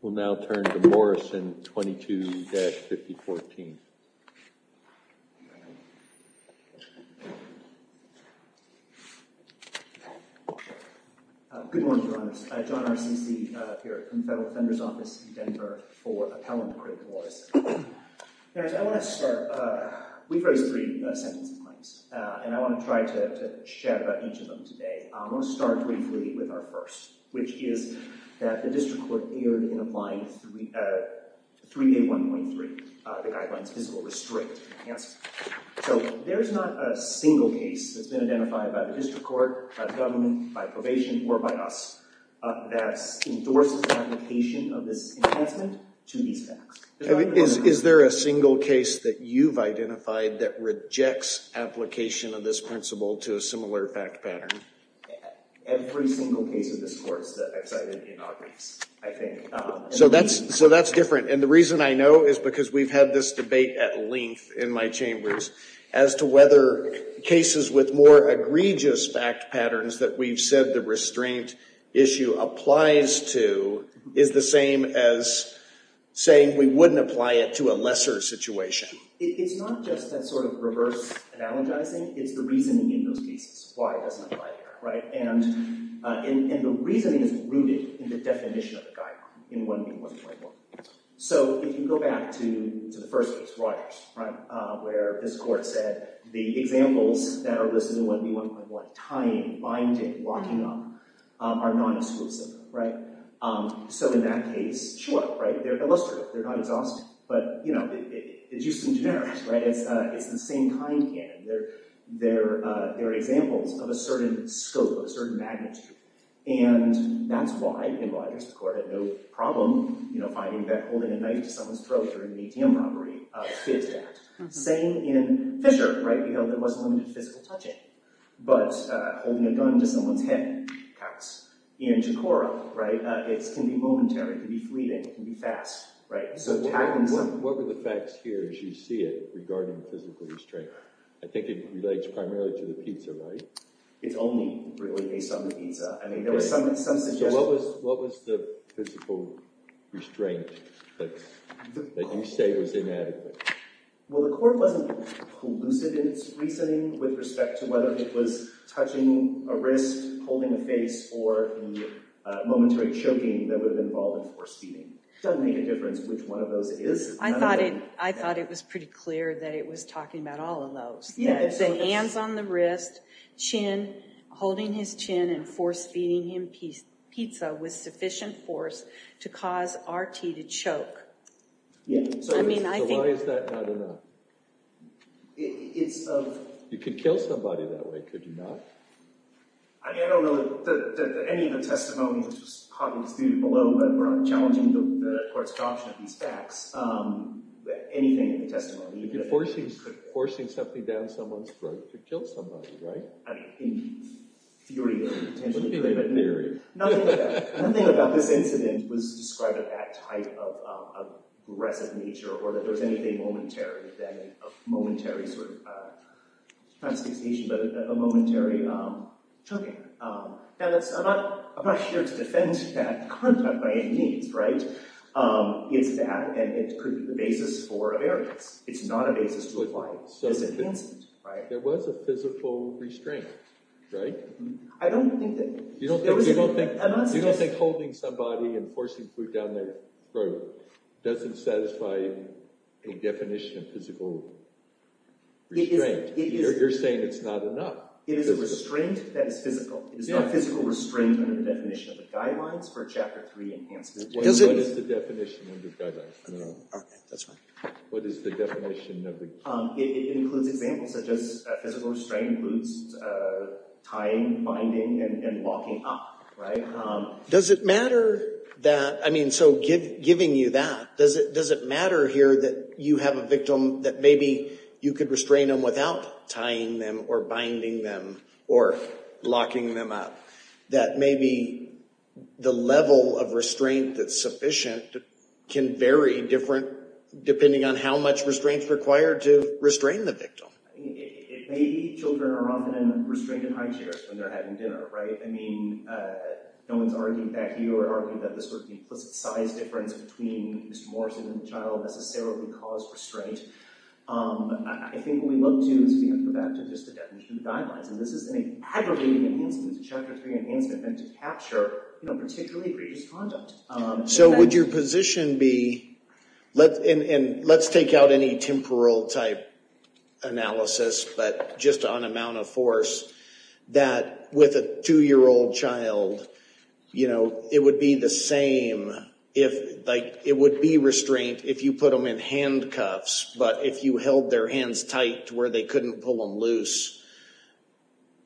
We'll now turn to Morrison 22-5014. Good morning, Your Honors. John R. C. C. here from the Federal Defender's Office in Denver for Appellant Critic Morrison. Your Honors, I want to start. We've raised three sentencing claims, and I want to try to share about each of them today. I want to start briefly with our first, which is that the District Court erred in applying 3A.1.3, the Guidelines for Physical Restraint and Enhancement. So there's not a single case that's been identified by the District Court, by the government, by probation, or by us that endorses the application of this enhancement to these facts. Is there a single case that you've identified that rejects application of this principle to a similar fact pattern? Every single case in this course that I've cited inaugurates, I think. So that's different. And the reason I know is because we've had this debate at length in my chambers as to whether cases with more egregious fact patterns that we've said the restraint issue applies to is the same as saying we wouldn't apply it to a lesser situation. It's not just that sort of reverse analogizing. It's the reasoning in those cases, why it doesn't apply there. And the reasoning is rooted in the definition of the guideline in 1B.1.1. So if you go back to the first case, Rogers, where this court said the examples that are listed in 1B.1.1, tying, binding, locking up, are non-exclusive. So in that case, shoo up. They're illustrative. They're not exhaustive. But it's used in generics. It's the same kind again. They're examples of a certain scope, a certain magnitude. And that's why in Rogers, the court had no problem finding that holding a knife to someone's throat during an ATM robbery fits that. Same in Fisher. There wasn't limited physical touching. But holding a gun to someone's head, perhaps, in Chicora, it can be momentary. It can be fleeting. It can be fast. What were the facts here, as you see it, regarding physical restraint? I think it relates primarily to the pizza, right? It's only really based on the pizza. I mean, there was some suggestion. So what was the physical restraint that you say was inadequate? Well, the court wasn't collusive in its reasoning with respect to whether it was touching a wrist, holding a face, or the momentary choking that would have been involved in force-feeding. It doesn't make a difference which one of those it is. I thought it was pretty clear that it was talking about all of those. The hands on the wrist, chin, holding his chin and force-feeding him pizza with sufficient force to cause RT to choke. So why is that not enough? You could kill somebody that way, could you not? I mean, I don't know that any of the testimony, which was hotly disputed below, but we're challenging the court's caution of these facts. Anything in the testimony. You're forcing something down someone's throat to kill somebody, right? I mean, in theory, potentially. In theory. Nothing like that. A momentary choking. Now, I'm not here to defend that contact by any means, right? It's that, and it could be the basis for evidence. It's not a basis to apply. There was a physical restraint, right? I don't think that... You don't think holding somebody and forcing food down their throat doesn't satisfy the definition of physical restraint? You're saying it's not enough. It is a restraint that is physical. It is not physical restraint under the definition of the guidelines for Chapter 3 enhancement. What is the definition under the guidelines? I don't know. Okay, that's fine. What is the definition of the... It includes examples such as physical restraint includes tying, binding, and locking up, right? Does it matter that... I mean, so giving you that, does it matter here that you have a victim that maybe you could restrain them without tying them or binding them or locking them up? That maybe the level of restraint that's sufficient can vary depending on how much restraint is required to restrain the victim. Maybe children are often in restrained high chairs when they're having dinner, right? I mean, no one's argued back here or argued that the sort of implicit size difference between Mr. Morrison and the child necessarily caused restraint. I think what we look to is to be able to go back to just the definition of the guidelines. And this is an aggravating enhancement, a Chapter 3 enhancement meant to capture, you know, particularly egregious conduct. So would your position be... And let's take out any temporal type analysis, but just on amount of force, that with a two-year-old child, you know, it would be the same if... Like, it would be restraint if you put them in handcuffs, but if you held their hands tight where they couldn't pull them loose,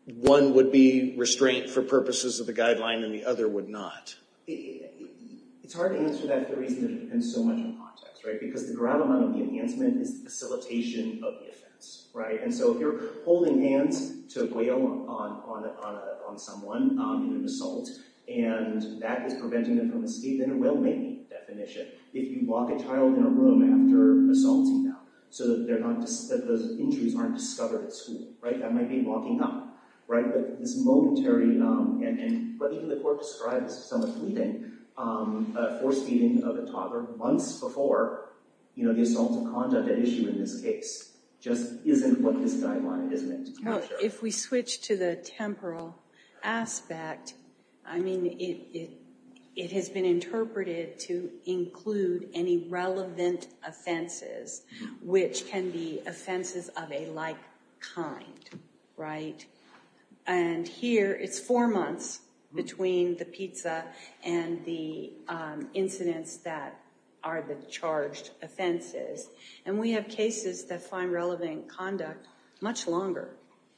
one would be restraint for purposes of the guideline and the other would not. It's hard to answer that for reasons that depend so much on context, right? Because the ground line of the enhancement is the facilitation of the offense, right? And so if you're holding hands to a whale on someone in an assault and that is preventing them from escape, then a whale may be the definition. If you lock a child in a room after assaulting them so that those injuries aren't discovered at school, right? That might be locking up, right? But this momentary... But even the court described this as somewhat fleeting, a force-feeding of a toddler months before, you know, the assaults of conduct at issue in this case just isn't what this guideline is meant to capture. If we switch to the temporal aspect, I mean, it has been interpreted to include any relevant offenses, which can be offenses of a like kind, right? And here, it's four months between the pizza and the incidents that are the charged offenses. And we have cases that find relevant conduct much longer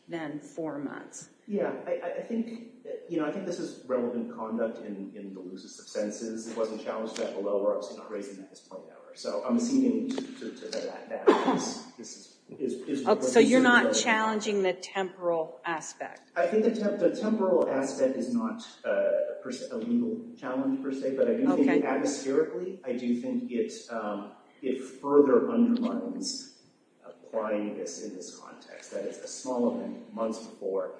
than four months. Yeah, I think, you know, I think this is relevant conduct in the loosest of senses. It wasn't challenged that below where I was not raising that as a point of error. So I'm assuming that this is... So you're not challenging the temporal aspect? I think the temporal aspect is not a legal challenge, per se. But I do think, atmospherically, I do think it further undermines applying this in this context. That it's a small event months before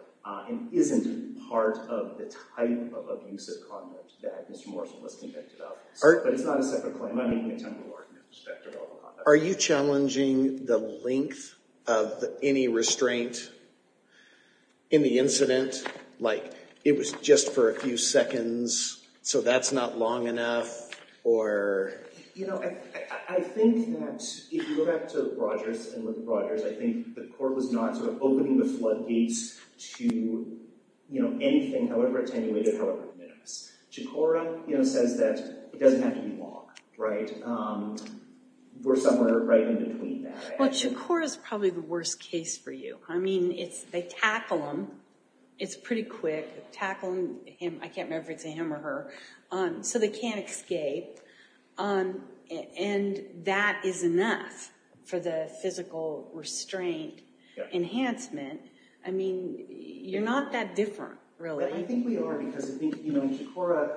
and isn't part of the type of abusive conduct that Mr. Morrison was convicted of. But it's not a separate claim. I'm not making a temporal argument with respect to all the conduct. Are you challenging the length of any restraint in the incident? Like, it was just for a few seconds, so that's not long enough, or... You know, I think that, if you go back to Rogers and with Rogers, I think the court was not sort of opening the floodgates to, you know, anything, however attenuated, however minimalist. Chikora, you know, says that it doesn't have to be long, right? We're somewhere right in between that. Well, Chikora's probably the worst case for you. I mean, they tackle him. It's pretty quick. Tackling him, I can't remember if it's a him or her. So they can't escape. And that is enough for the physical restraint enhancement. I mean, you're not that different, really. I think we are, because I think, you know, Chikora,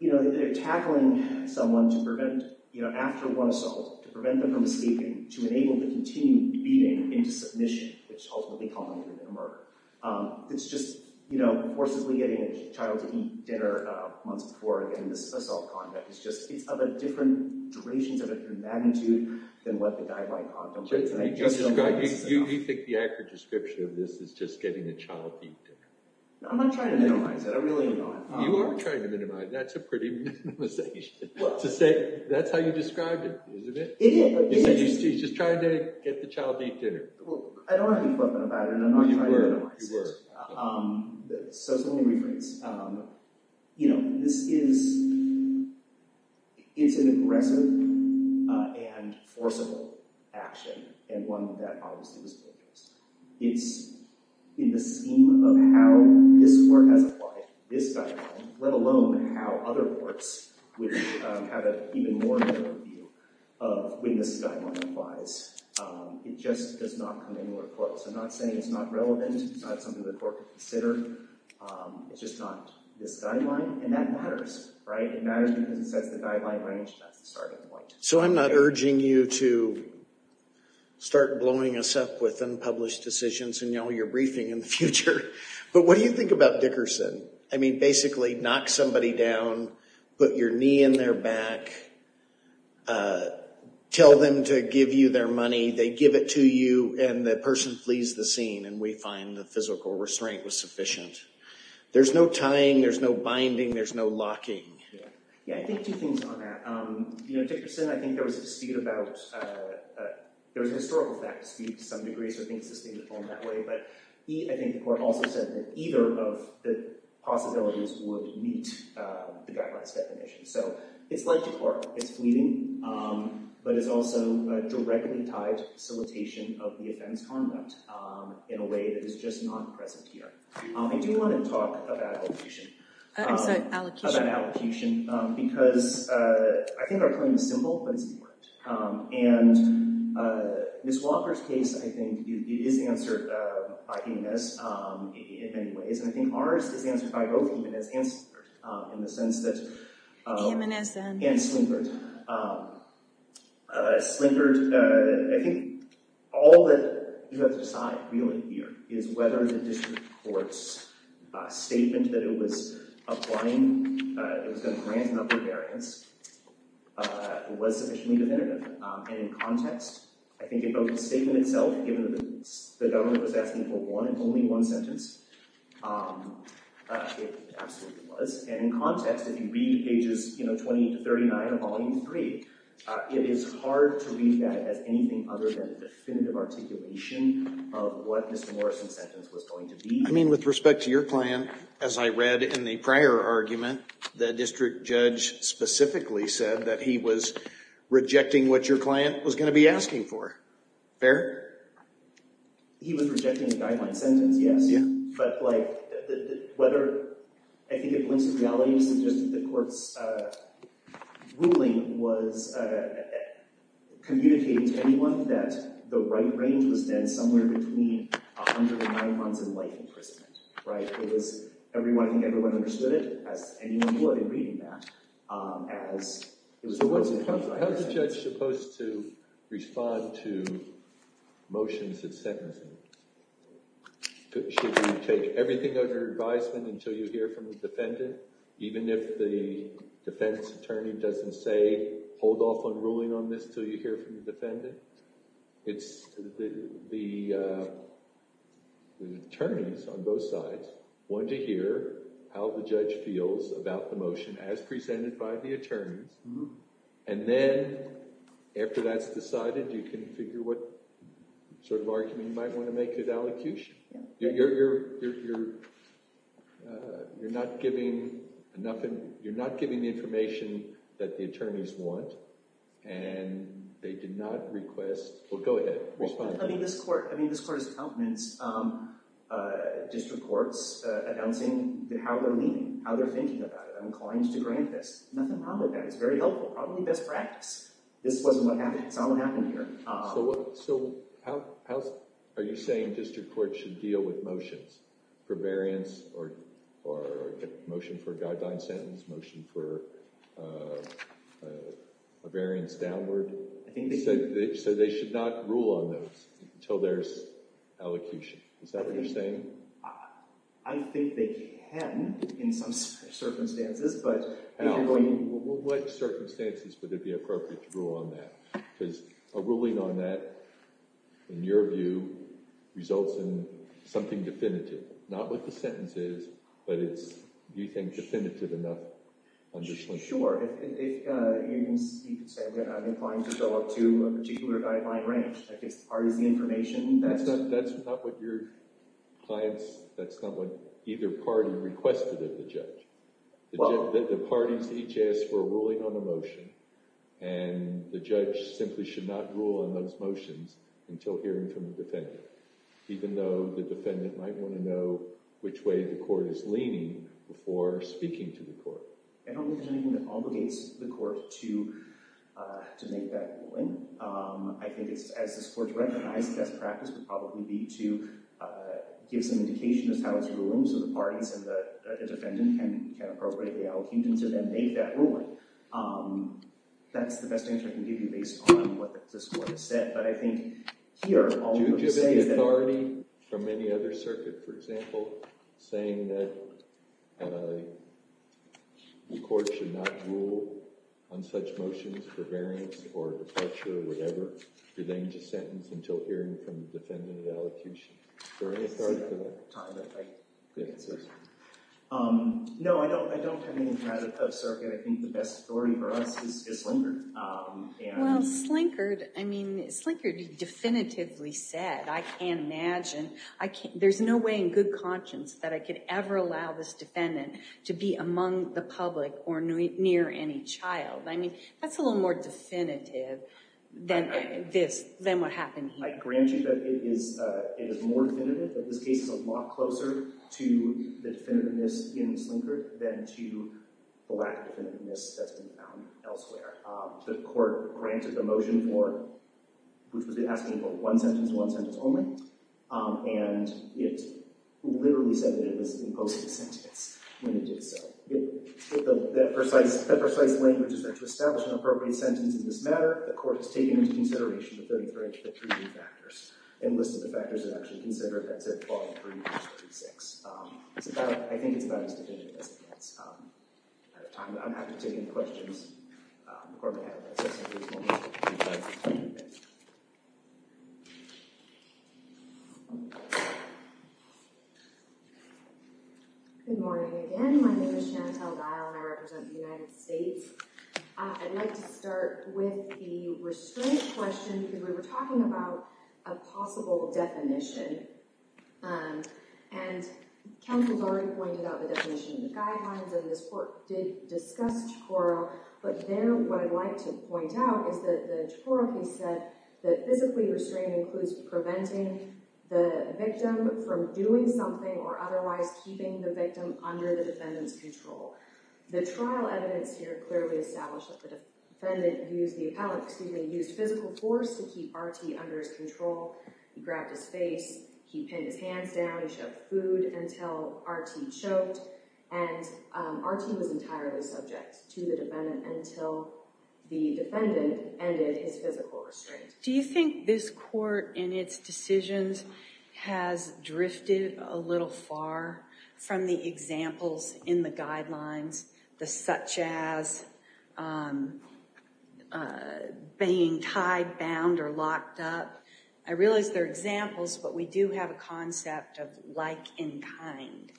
you know, they're tackling someone to prevent, you know, after one assault, to prevent them from escaping, to enable the continued beating into submission, which ultimately culminated in a murder. It's just, you know, forcibly getting a child to eat dinner months before getting this assault conduct. It's just, it's of a different duration, of a different magnitude than what the guideline contemplates. You think the accurate description of this is just getting a child to eat dinner? I'm not trying to minimize it. I really am not. You are trying to minimize it. That's a pretty minimization. To say, that's how you described it, isn't it? You said he's just trying to get the child to eat dinner. Well, I don't have any equipment about it, and I'm not trying to minimize it. So let me rephrase. You know, this is, it's an aggressive and forcible action, and one that obviously was focused. It's in the scheme of how this court has applied this guideline, let alone how other courts would have an even more clear view of when this guideline applies. It just does not come anywhere close. I'm not saying it's not relevant. It's not something the court could consider. It's just not this guideline, and that matters, right? It matters because it sets the guideline range, and that's the starting point. So I'm not urging you to start blowing us up with unpublished decisions in all your briefing in the future. But what do you think about Dickerson? I mean, basically knock somebody down, put your knee in their back, tell them to give you their money. They give it to you, and the person flees the scene, and we find the physical restraint was sufficient. There's no tying. There's no binding. There's no locking. Yeah, I think two things on that. You know, Dickerson, I think there was a dispute about – there was a historical fact dispute to some degree, so I think it's sustainable in that way. But I think the court also said that either of the possibilities would meet the guideline's definition. So it's like the court. It's fleeting, but it's also directly tied to facilitation of the offense conduct in a way that is just not present here. I do want to talk about allocation. I'm sorry, allocation. About allocation, because I think our claim is simple, but it's important. And Ms. Walker's case, I think, is answered by EMS in many ways, and I think ours is answered by both EMS and Slingard in the sense that – EMS and – the court's statement that it was applying – it was going to grant an upper variance was sufficiently definitive. And in context, I think the statement itself, given that the government was asking for one and only one sentence, it absolutely was. And in context, if you read pages 20 to 39 of Volume 3, it is hard to read that as anything other than a definitive articulation of what Mr. Morrison's sentence was going to be. I mean, with respect to your client, as I read in the prior argument, the district judge specifically said that he was rejecting what your client was going to be asking for. Fair? He was rejecting the guideline sentence, yes. Yeah. But, like, whether – I think it points to reality to suggest that the court's ruling was communicating to anyone that the right range was then somewhere between 109 months and life imprisonment, right? It was – I think everyone understood it, as anyone would in reading that, as – How is the judge supposed to respond to motions and sentencing? Should you take everything under advisement until you hear from the defendant, even if the defense attorney doesn't say, hold off on ruling on this until you hear from the defendant? It's – the attorneys on both sides want to hear how the judge feels about the motion as presented by the attorneys. And then, after that's decided, you can figure what sort of argument you might want to make at allocution. You're not giving – you're not giving the information that the attorneys want, and they did not request – well, go ahead. Respond. I mean, this court – I mean, this court's accountants, district courts, announcing how they're leaning, how they're thinking about it. I'm inclined to grant this. Nothing wrong with that. It's very helpful. Probably best practice. This wasn't what happened – it's not what happened here. So what – so how – are you saying district courts should deal with motions for variance or motion for a guideline sentence, motion for a variance downward? So they should not rule on those until there's allocution. Is that what you're saying? I think they can in some circumstances, but – Well, what circumstances would it be appropriate to rule on that? Because a ruling on that, in your view, results in something definitive. Not what the sentence is, but it's – do you think definitive enough on this one? Sure. You can say that I'm inclined to go up to a particular guideline range. That gives the parties the information. That's not what your clients – that's not what either party requested of the judge. The parties each asked for a ruling on a motion, and the judge simply should not rule on those motions until hearing from the defendant, even though the defendant might want to know which way the court is leaning before speaking to the court. I don't think there's anything that obligates the court to make that ruling. I think it's – as this court recognizes, best practice would probably be to give some indication of how it's ruling, so the parties and the defendant can appropriate the allocution to then make that ruling. That's the best answer I can give you based on what this court has said, but I think here – Do you give any authority from any other circuit, for example, saying that the court should not rule on such motions for variance or departure or whatever? Do they need to sentence until hearing from the defendant at allocution? Is there any authority for that? No, I don't have anything out of that circuit. I think the best authority for us is Slinkard. Well, Slinkard – I mean, Slinkard definitively said, I can't imagine – there's no way in good conscience that I could ever allow this defendant to be among the public or near any child. I mean, that's a little more definitive than what happened here. I grant you that it is more definitive, that this case is a lot closer to the definitiveness in Slinkard than to the lack of definitiveness that's been found elsewhere. The court granted the motion for – which was asking for one sentence, one sentence only, and it literally said that it was imposing a sentence when it did so. That precise language is there to establish an appropriate sentence in this matter. The court has taken into consideration the 33 factors and listed the factors it actually considered. That's at 12-3-36. I think it's about as definitive as it gets. I don't have to take any questions. The court may have them. Thank you. Good morning. Again, my name is Chantelle Dial, and I represent the United States. I'd like to start with the restraint question, because we were talking about a possible definition. And counsel's already pointed out the definition in the guidelines, and this court did discuss chokora. But there, what I'd like to point out is that the chokora piece said that physically restrained includes preventing the victim from doing something or otherwise keeping the victim under the defendant's control. The trial evidence here clearly established that the defendant used the appellant – excuse me, used physical force to keep Artie under his control. He grabbed his face, he pinned his hands down, he shoved food until Artie choked. And Artie was entirely subject to the defendant until the defendant ended his physical restraint. Do you think this court in its decisions has drifted a little far from the examples in the guidelines, such as being tied, bound, or locked up? I realize they're examples, but we do have a concept of like and kind.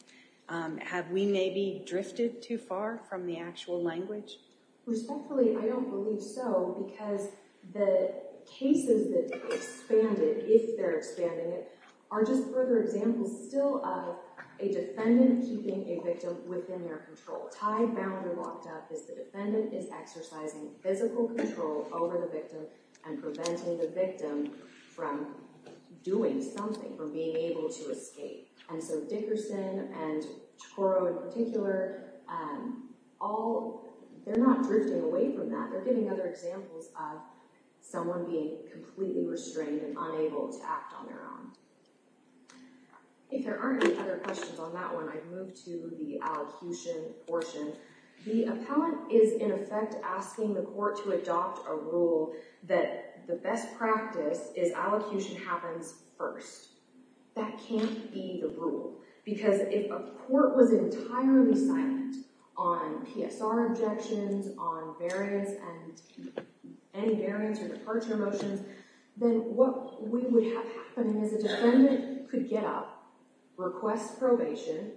Have we maybe drifted too far from the actual language? Respectfully, I don't believe so, because the cases that expanded, if they're expanding it, are just further examples still of a defendant keeping a victim within their control. Tied, bound, or locked up is the defendant is exercising physical control over the victim and preventing the victim from doing something, from being able to escape. And so Dickerson and Toro in particular, they're not drifting away from that. They're giving other examples of someone being completely restrained and unable to act on their own. If there aren't any other questions on that one, I'd move to the allocution portion. The appellant is, in effect, asking the court to adopt a rule that the best practice is allocution happens first. That can't be the rule, because if a court was entirely silent on PSR objections, on variance, and any variance or departure motions, then what we would have happening is a defendant could get up, request probation,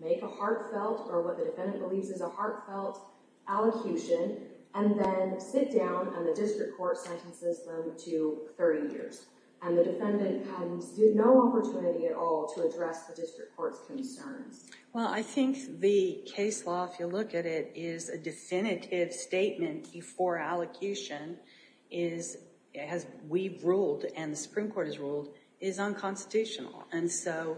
make a heartfelt, or what the defendant believes is a heartfelt, allocution, and then sit down and the district court sentences them to 30 years. And the defendant has no opportunity at all to address the district court's concerns. Well, I think the case law, if you look at it, is a definitive statement before allocation, as we've ruled and the Supreme Court has ruled, is unconstitutional. And so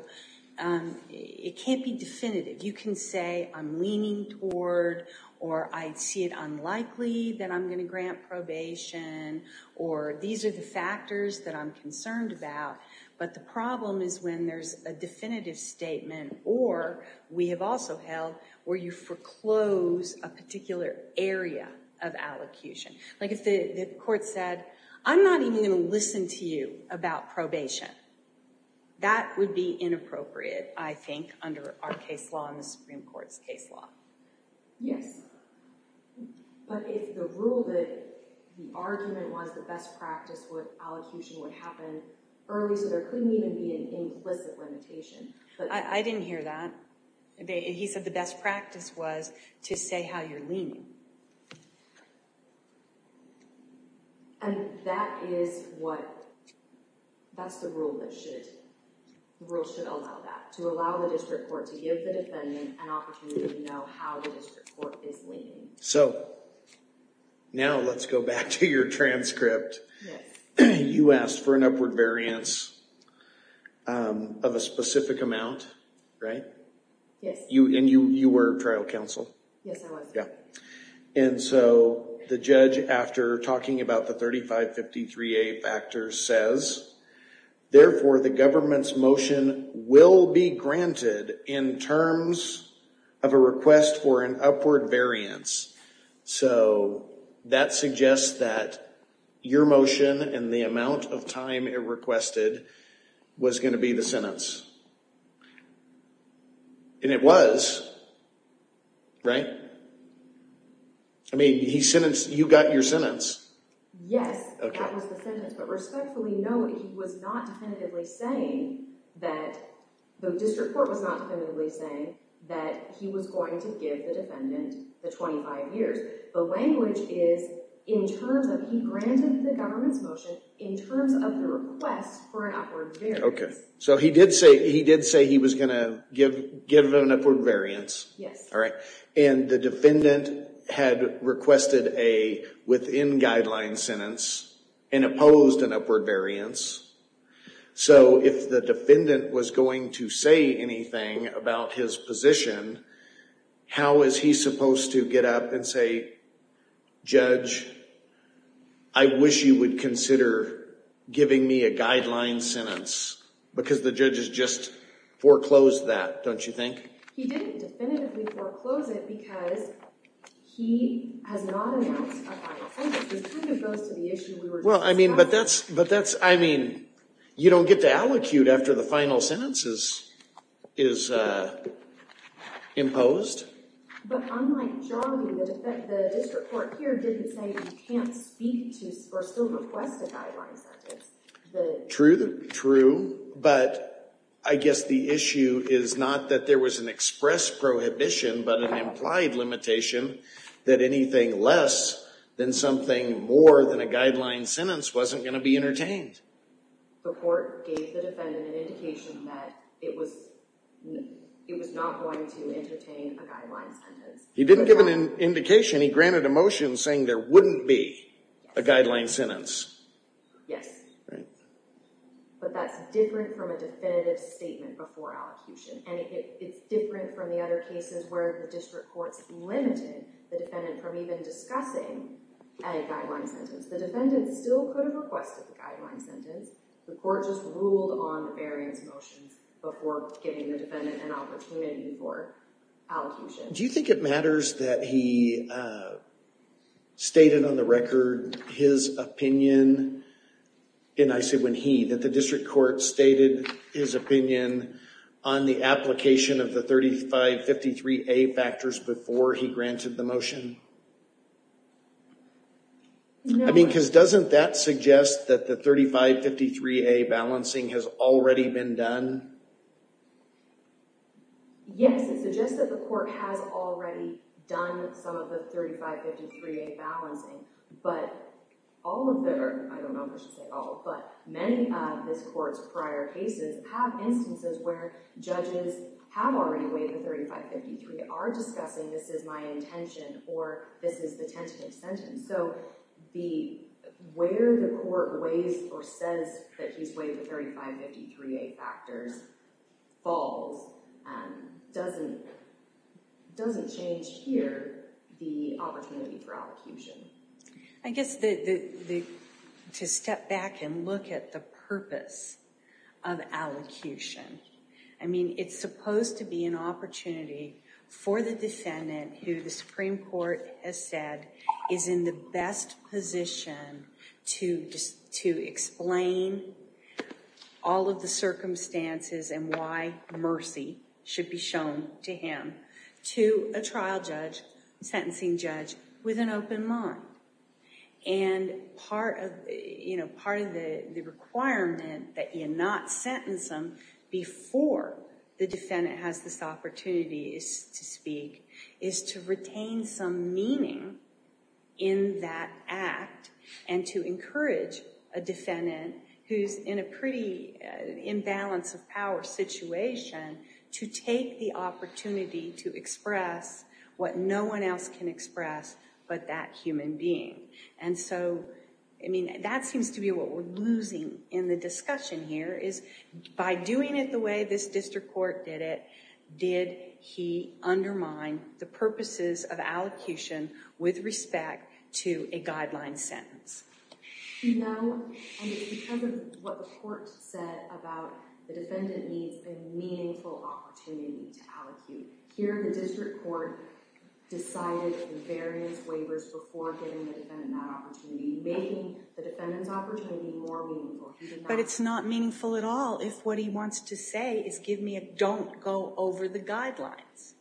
it can't be definitive. You can say, I'm leaning toward, or I see it unlikely that I'm going to grant probation, or these are the factors that I'm concerned about. But the problem is when there's a definitive statement, or we have also held, where you foreclose a particular area of allocution. Like if the court said, I'm not even going to listen to you about probation. That would be inappropriate, I think, under our case law and the Supreme Court's case law. Yes. But if the rule that the argument was the best practice where allocution would happen early, so there couldn't even be an implicit limitation. I didn't hear that. He said the best practice was to say how you're leaning. And that is what, that's the rule that should, the rule should allow that. To allow the district court to give the defendant an opportunity to know how the district court is leaning. So, now let's go back to your transcript. You asked for an upward variance of a specific amount, right? Yes. And you were trial counsel? Yes, I was. Yeah. And so the judge, after talking about the 3553A factors, says, therefore the government's motion will be granted in terms of a request for an upward variance. So, that suggests that your motion and the amount of time it requested was going to be the sentence. And it was, right? I mean, he sentenced, you got your sentence. Yes, that was the sentence. But respectfully, no, he was not definitively saying that, the district court was not definitively saying that he was going to give the defendant the 25 years. The language is, in terms of, he granted the government's motion in terms of the request for an upward variance. Okay, so he did say he was going to give an upward variance. Yes. And the defendant had requested a within-guideline sentence and opposed an upward variance. So, if the defendant was going to say anything about his position, how is he supposed to get up and say, Judge, I wish you would consider giving me a guideline sentence? Because the judge has just foreclosed that, don't you think? He didn't definitively foreclose it because he has not announced a guideline sentence. This kind of goes to the issue we were discussing. Well, I mean, but that's, I mean, you don't get to allocute after the final sentence is imposed. But unlike Joggy, the district court here didn't say you can't speak to or still request a guideline sentence. True, true, but I guess the issue is not that there was an express prohibition, but an implied limitation that anything less than something more than a guideline sentence wasn't going to be entertained. The court gave the defendant an indication that it was not going to entertain a guideline sentence. He didn't give an indication. He granted a motion saying there wouldn't be a guideline sentence. Yes. Right. But that's different from a definitive statement before allocution. And it's different from the other cases where the district courts limited the defendant from even discussing a guideline sentence. The defendant still could have requested the guideline sentence. The court just ruled on the variance motions before giving the defendant an opportunity for allocution. Do you think it matters that he stated on the record his opinion, and I say when he, that the district court stated his opinion on the application of the 3553A factors before he granted the motion? No. I mean, because doesn't that suggest that the 3553A balancing has already been done? Yes. It suggests that the court has already done some of the 3553A balancing. But all of the, I don't know if I should say all, but many of this court's prior cases have instances where judges have already weighed the 3553, are discussing this is my intention or this is the tentative sentence. So where the court weighs or says that he's weighed the 3553A factors falls doesn't change here the opportunity for allocution. I guess to step back and look at the purpose of allocution, I mean, it's supposed to be an opportunity for the defendant who the Supreme Court has said is in the best position to explain all of the circumstances and why mercy should be shown to him to a trial judge, sentencing judge with an open mind. And part of the requirement that you not sentence him before the defendant has this opportunity to speak is to retain some meaning in that act and to encourage a defendant who's in a pretty imbalance of power situation to take the opportunity to express what no one else can express but that human being. And so, I mean, that seems to be what we're losing in the discussion here is by doing it the way this district court did it, did he undermine the purposes of allocution with respect to a guideline sentence? No, and it's because of what the court said about the defendant needs a meaningful opportunity to allocate. Here the district court decided in various waivers before giving the defendant that opportunity, making the defendant's opportunity more meaningful. But it's not meaningful at all if what he wants to say is give me a don't go over the guidelines.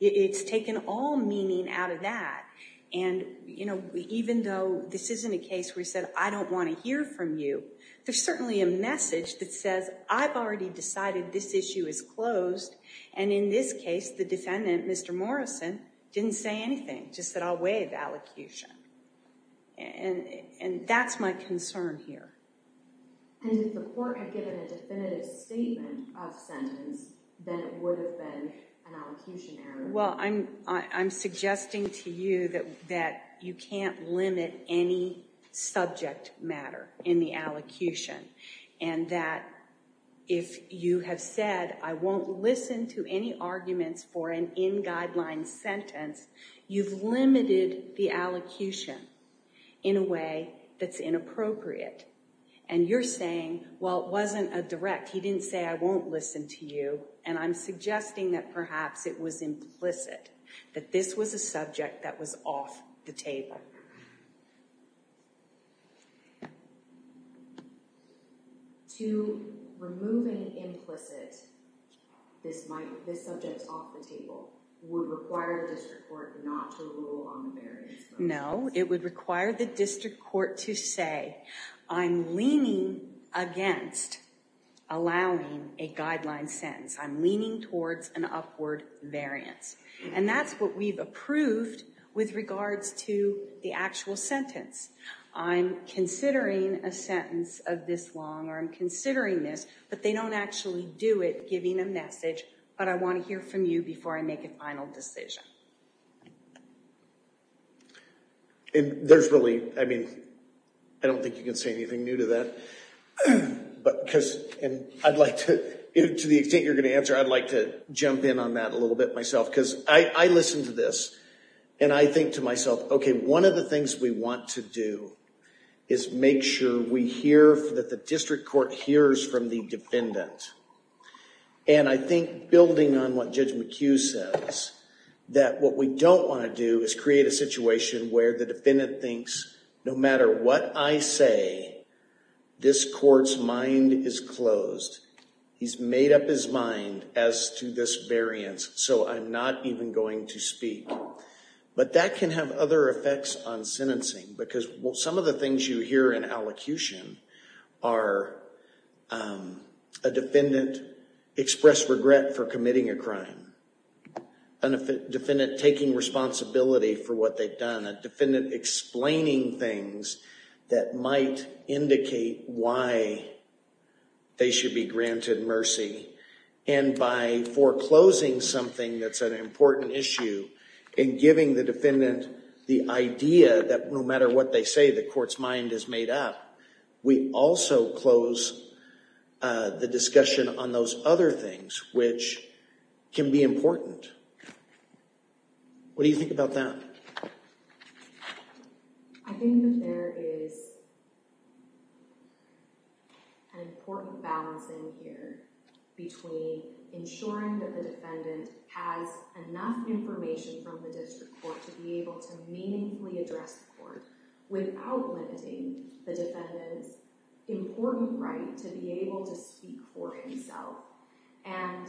It's taken all meaning out of that and, you know, even though this isn't a case where he said I don't want to hear from you, there's certainly a message that says I've already decided this issue is closed. And in this case, the defendant, Mr. Morrison, didn't say anything, just said I'll waive allocution. And that's my concern here. And if the court had given a definitive statement of sentence, then it would have been an allocution error. Well, I'm suggesting to you that you can't limit any subject matter in the allocution, and that if you have said I won't listen to any arguments for an in-guideline sentence, you've limited the allocation in a way that's inappropriate. And you're saying, well, it wasn't a direct, he didn't say I won't listen to you, and I'm suggesting that perhaps it was implicit, that this was a subject that was off the table. To remove an implicit, this subject's off the table, would require the district court not to rule on the variance. No, it would require the district court to say I'm leaning against allowing a guideline sentence. I'm leaning towards an upward variance. And that's what we've approved with regards to the actual sentence. I'm considering a sentence of this long, or I'm considering this, but they don't actually do it, giving a message, but I want to hear from you before I make a final decision. There's really, I mean, I don't think you can say anything new to that. And I'd like to, to the extent you're going to answer, I'd like to jump in on that a little bit myself. Because I listen to this, and I think to myself, okay, one of the things we want to do is make sure we hear, that the district court hears from the defendant. And I think building on what Judge McHugh says, that what we don't want to do is create a situation where the defendant thinks, no matter what I say, this court's mind is closed. He's made up his mind as to this variance, so I'm not even going to speak. But that can have other effects on sentencing. Because some of the things you hear in allocution are a defendant express regret for committing a crime, a defendant taking responsibility for what they've done, a defendant explaining things that might indicate why they should be granted mercy. And by foreclosing something that's an important issue, and giving the defendant the idea that no matter what they say, the court's mind is made up, we also close the discussion on those other things, which can be important. What do you think about that? I think that there is an important balance in here, between ensuring that the defendant has enough information from the district court to be able to meaningfully address the court without limiting the defendant's important right to be able to speak for himself. And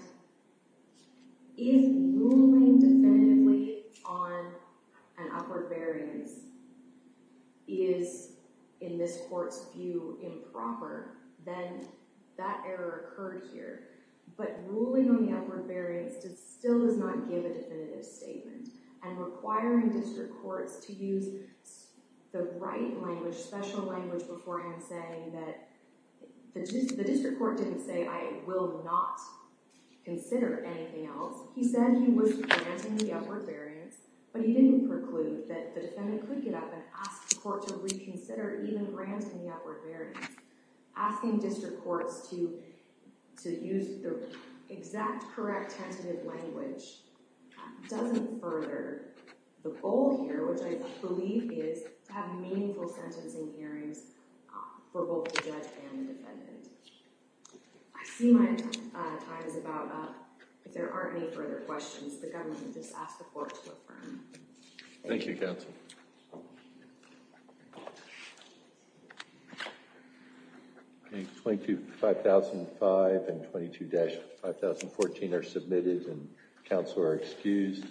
if ruling definitively on an upward variance is, in this court's view, improper, then that error occurred here. But ruling on the upward variance still does not give a definitive statement, and requiring district courts to use the right language, special language beforehand, saying that the district court didn't say, I will not consider anything else. He said he was granting the upward variance, but he didn't preclude that the defendant could get up and ask the court to reconsider even granting the upward variance. Asking district courts to use the exact correct tentative language doesn't further the goal here, which I believe is to have meaningful sentencing hearings for both the judge and the defendant. I see my time is about up. If there aren't any further questions, the government can just ask the court to affirm. Thank you, counsel. 22-5005 and 22-5014 are submitted, and counsel are excused.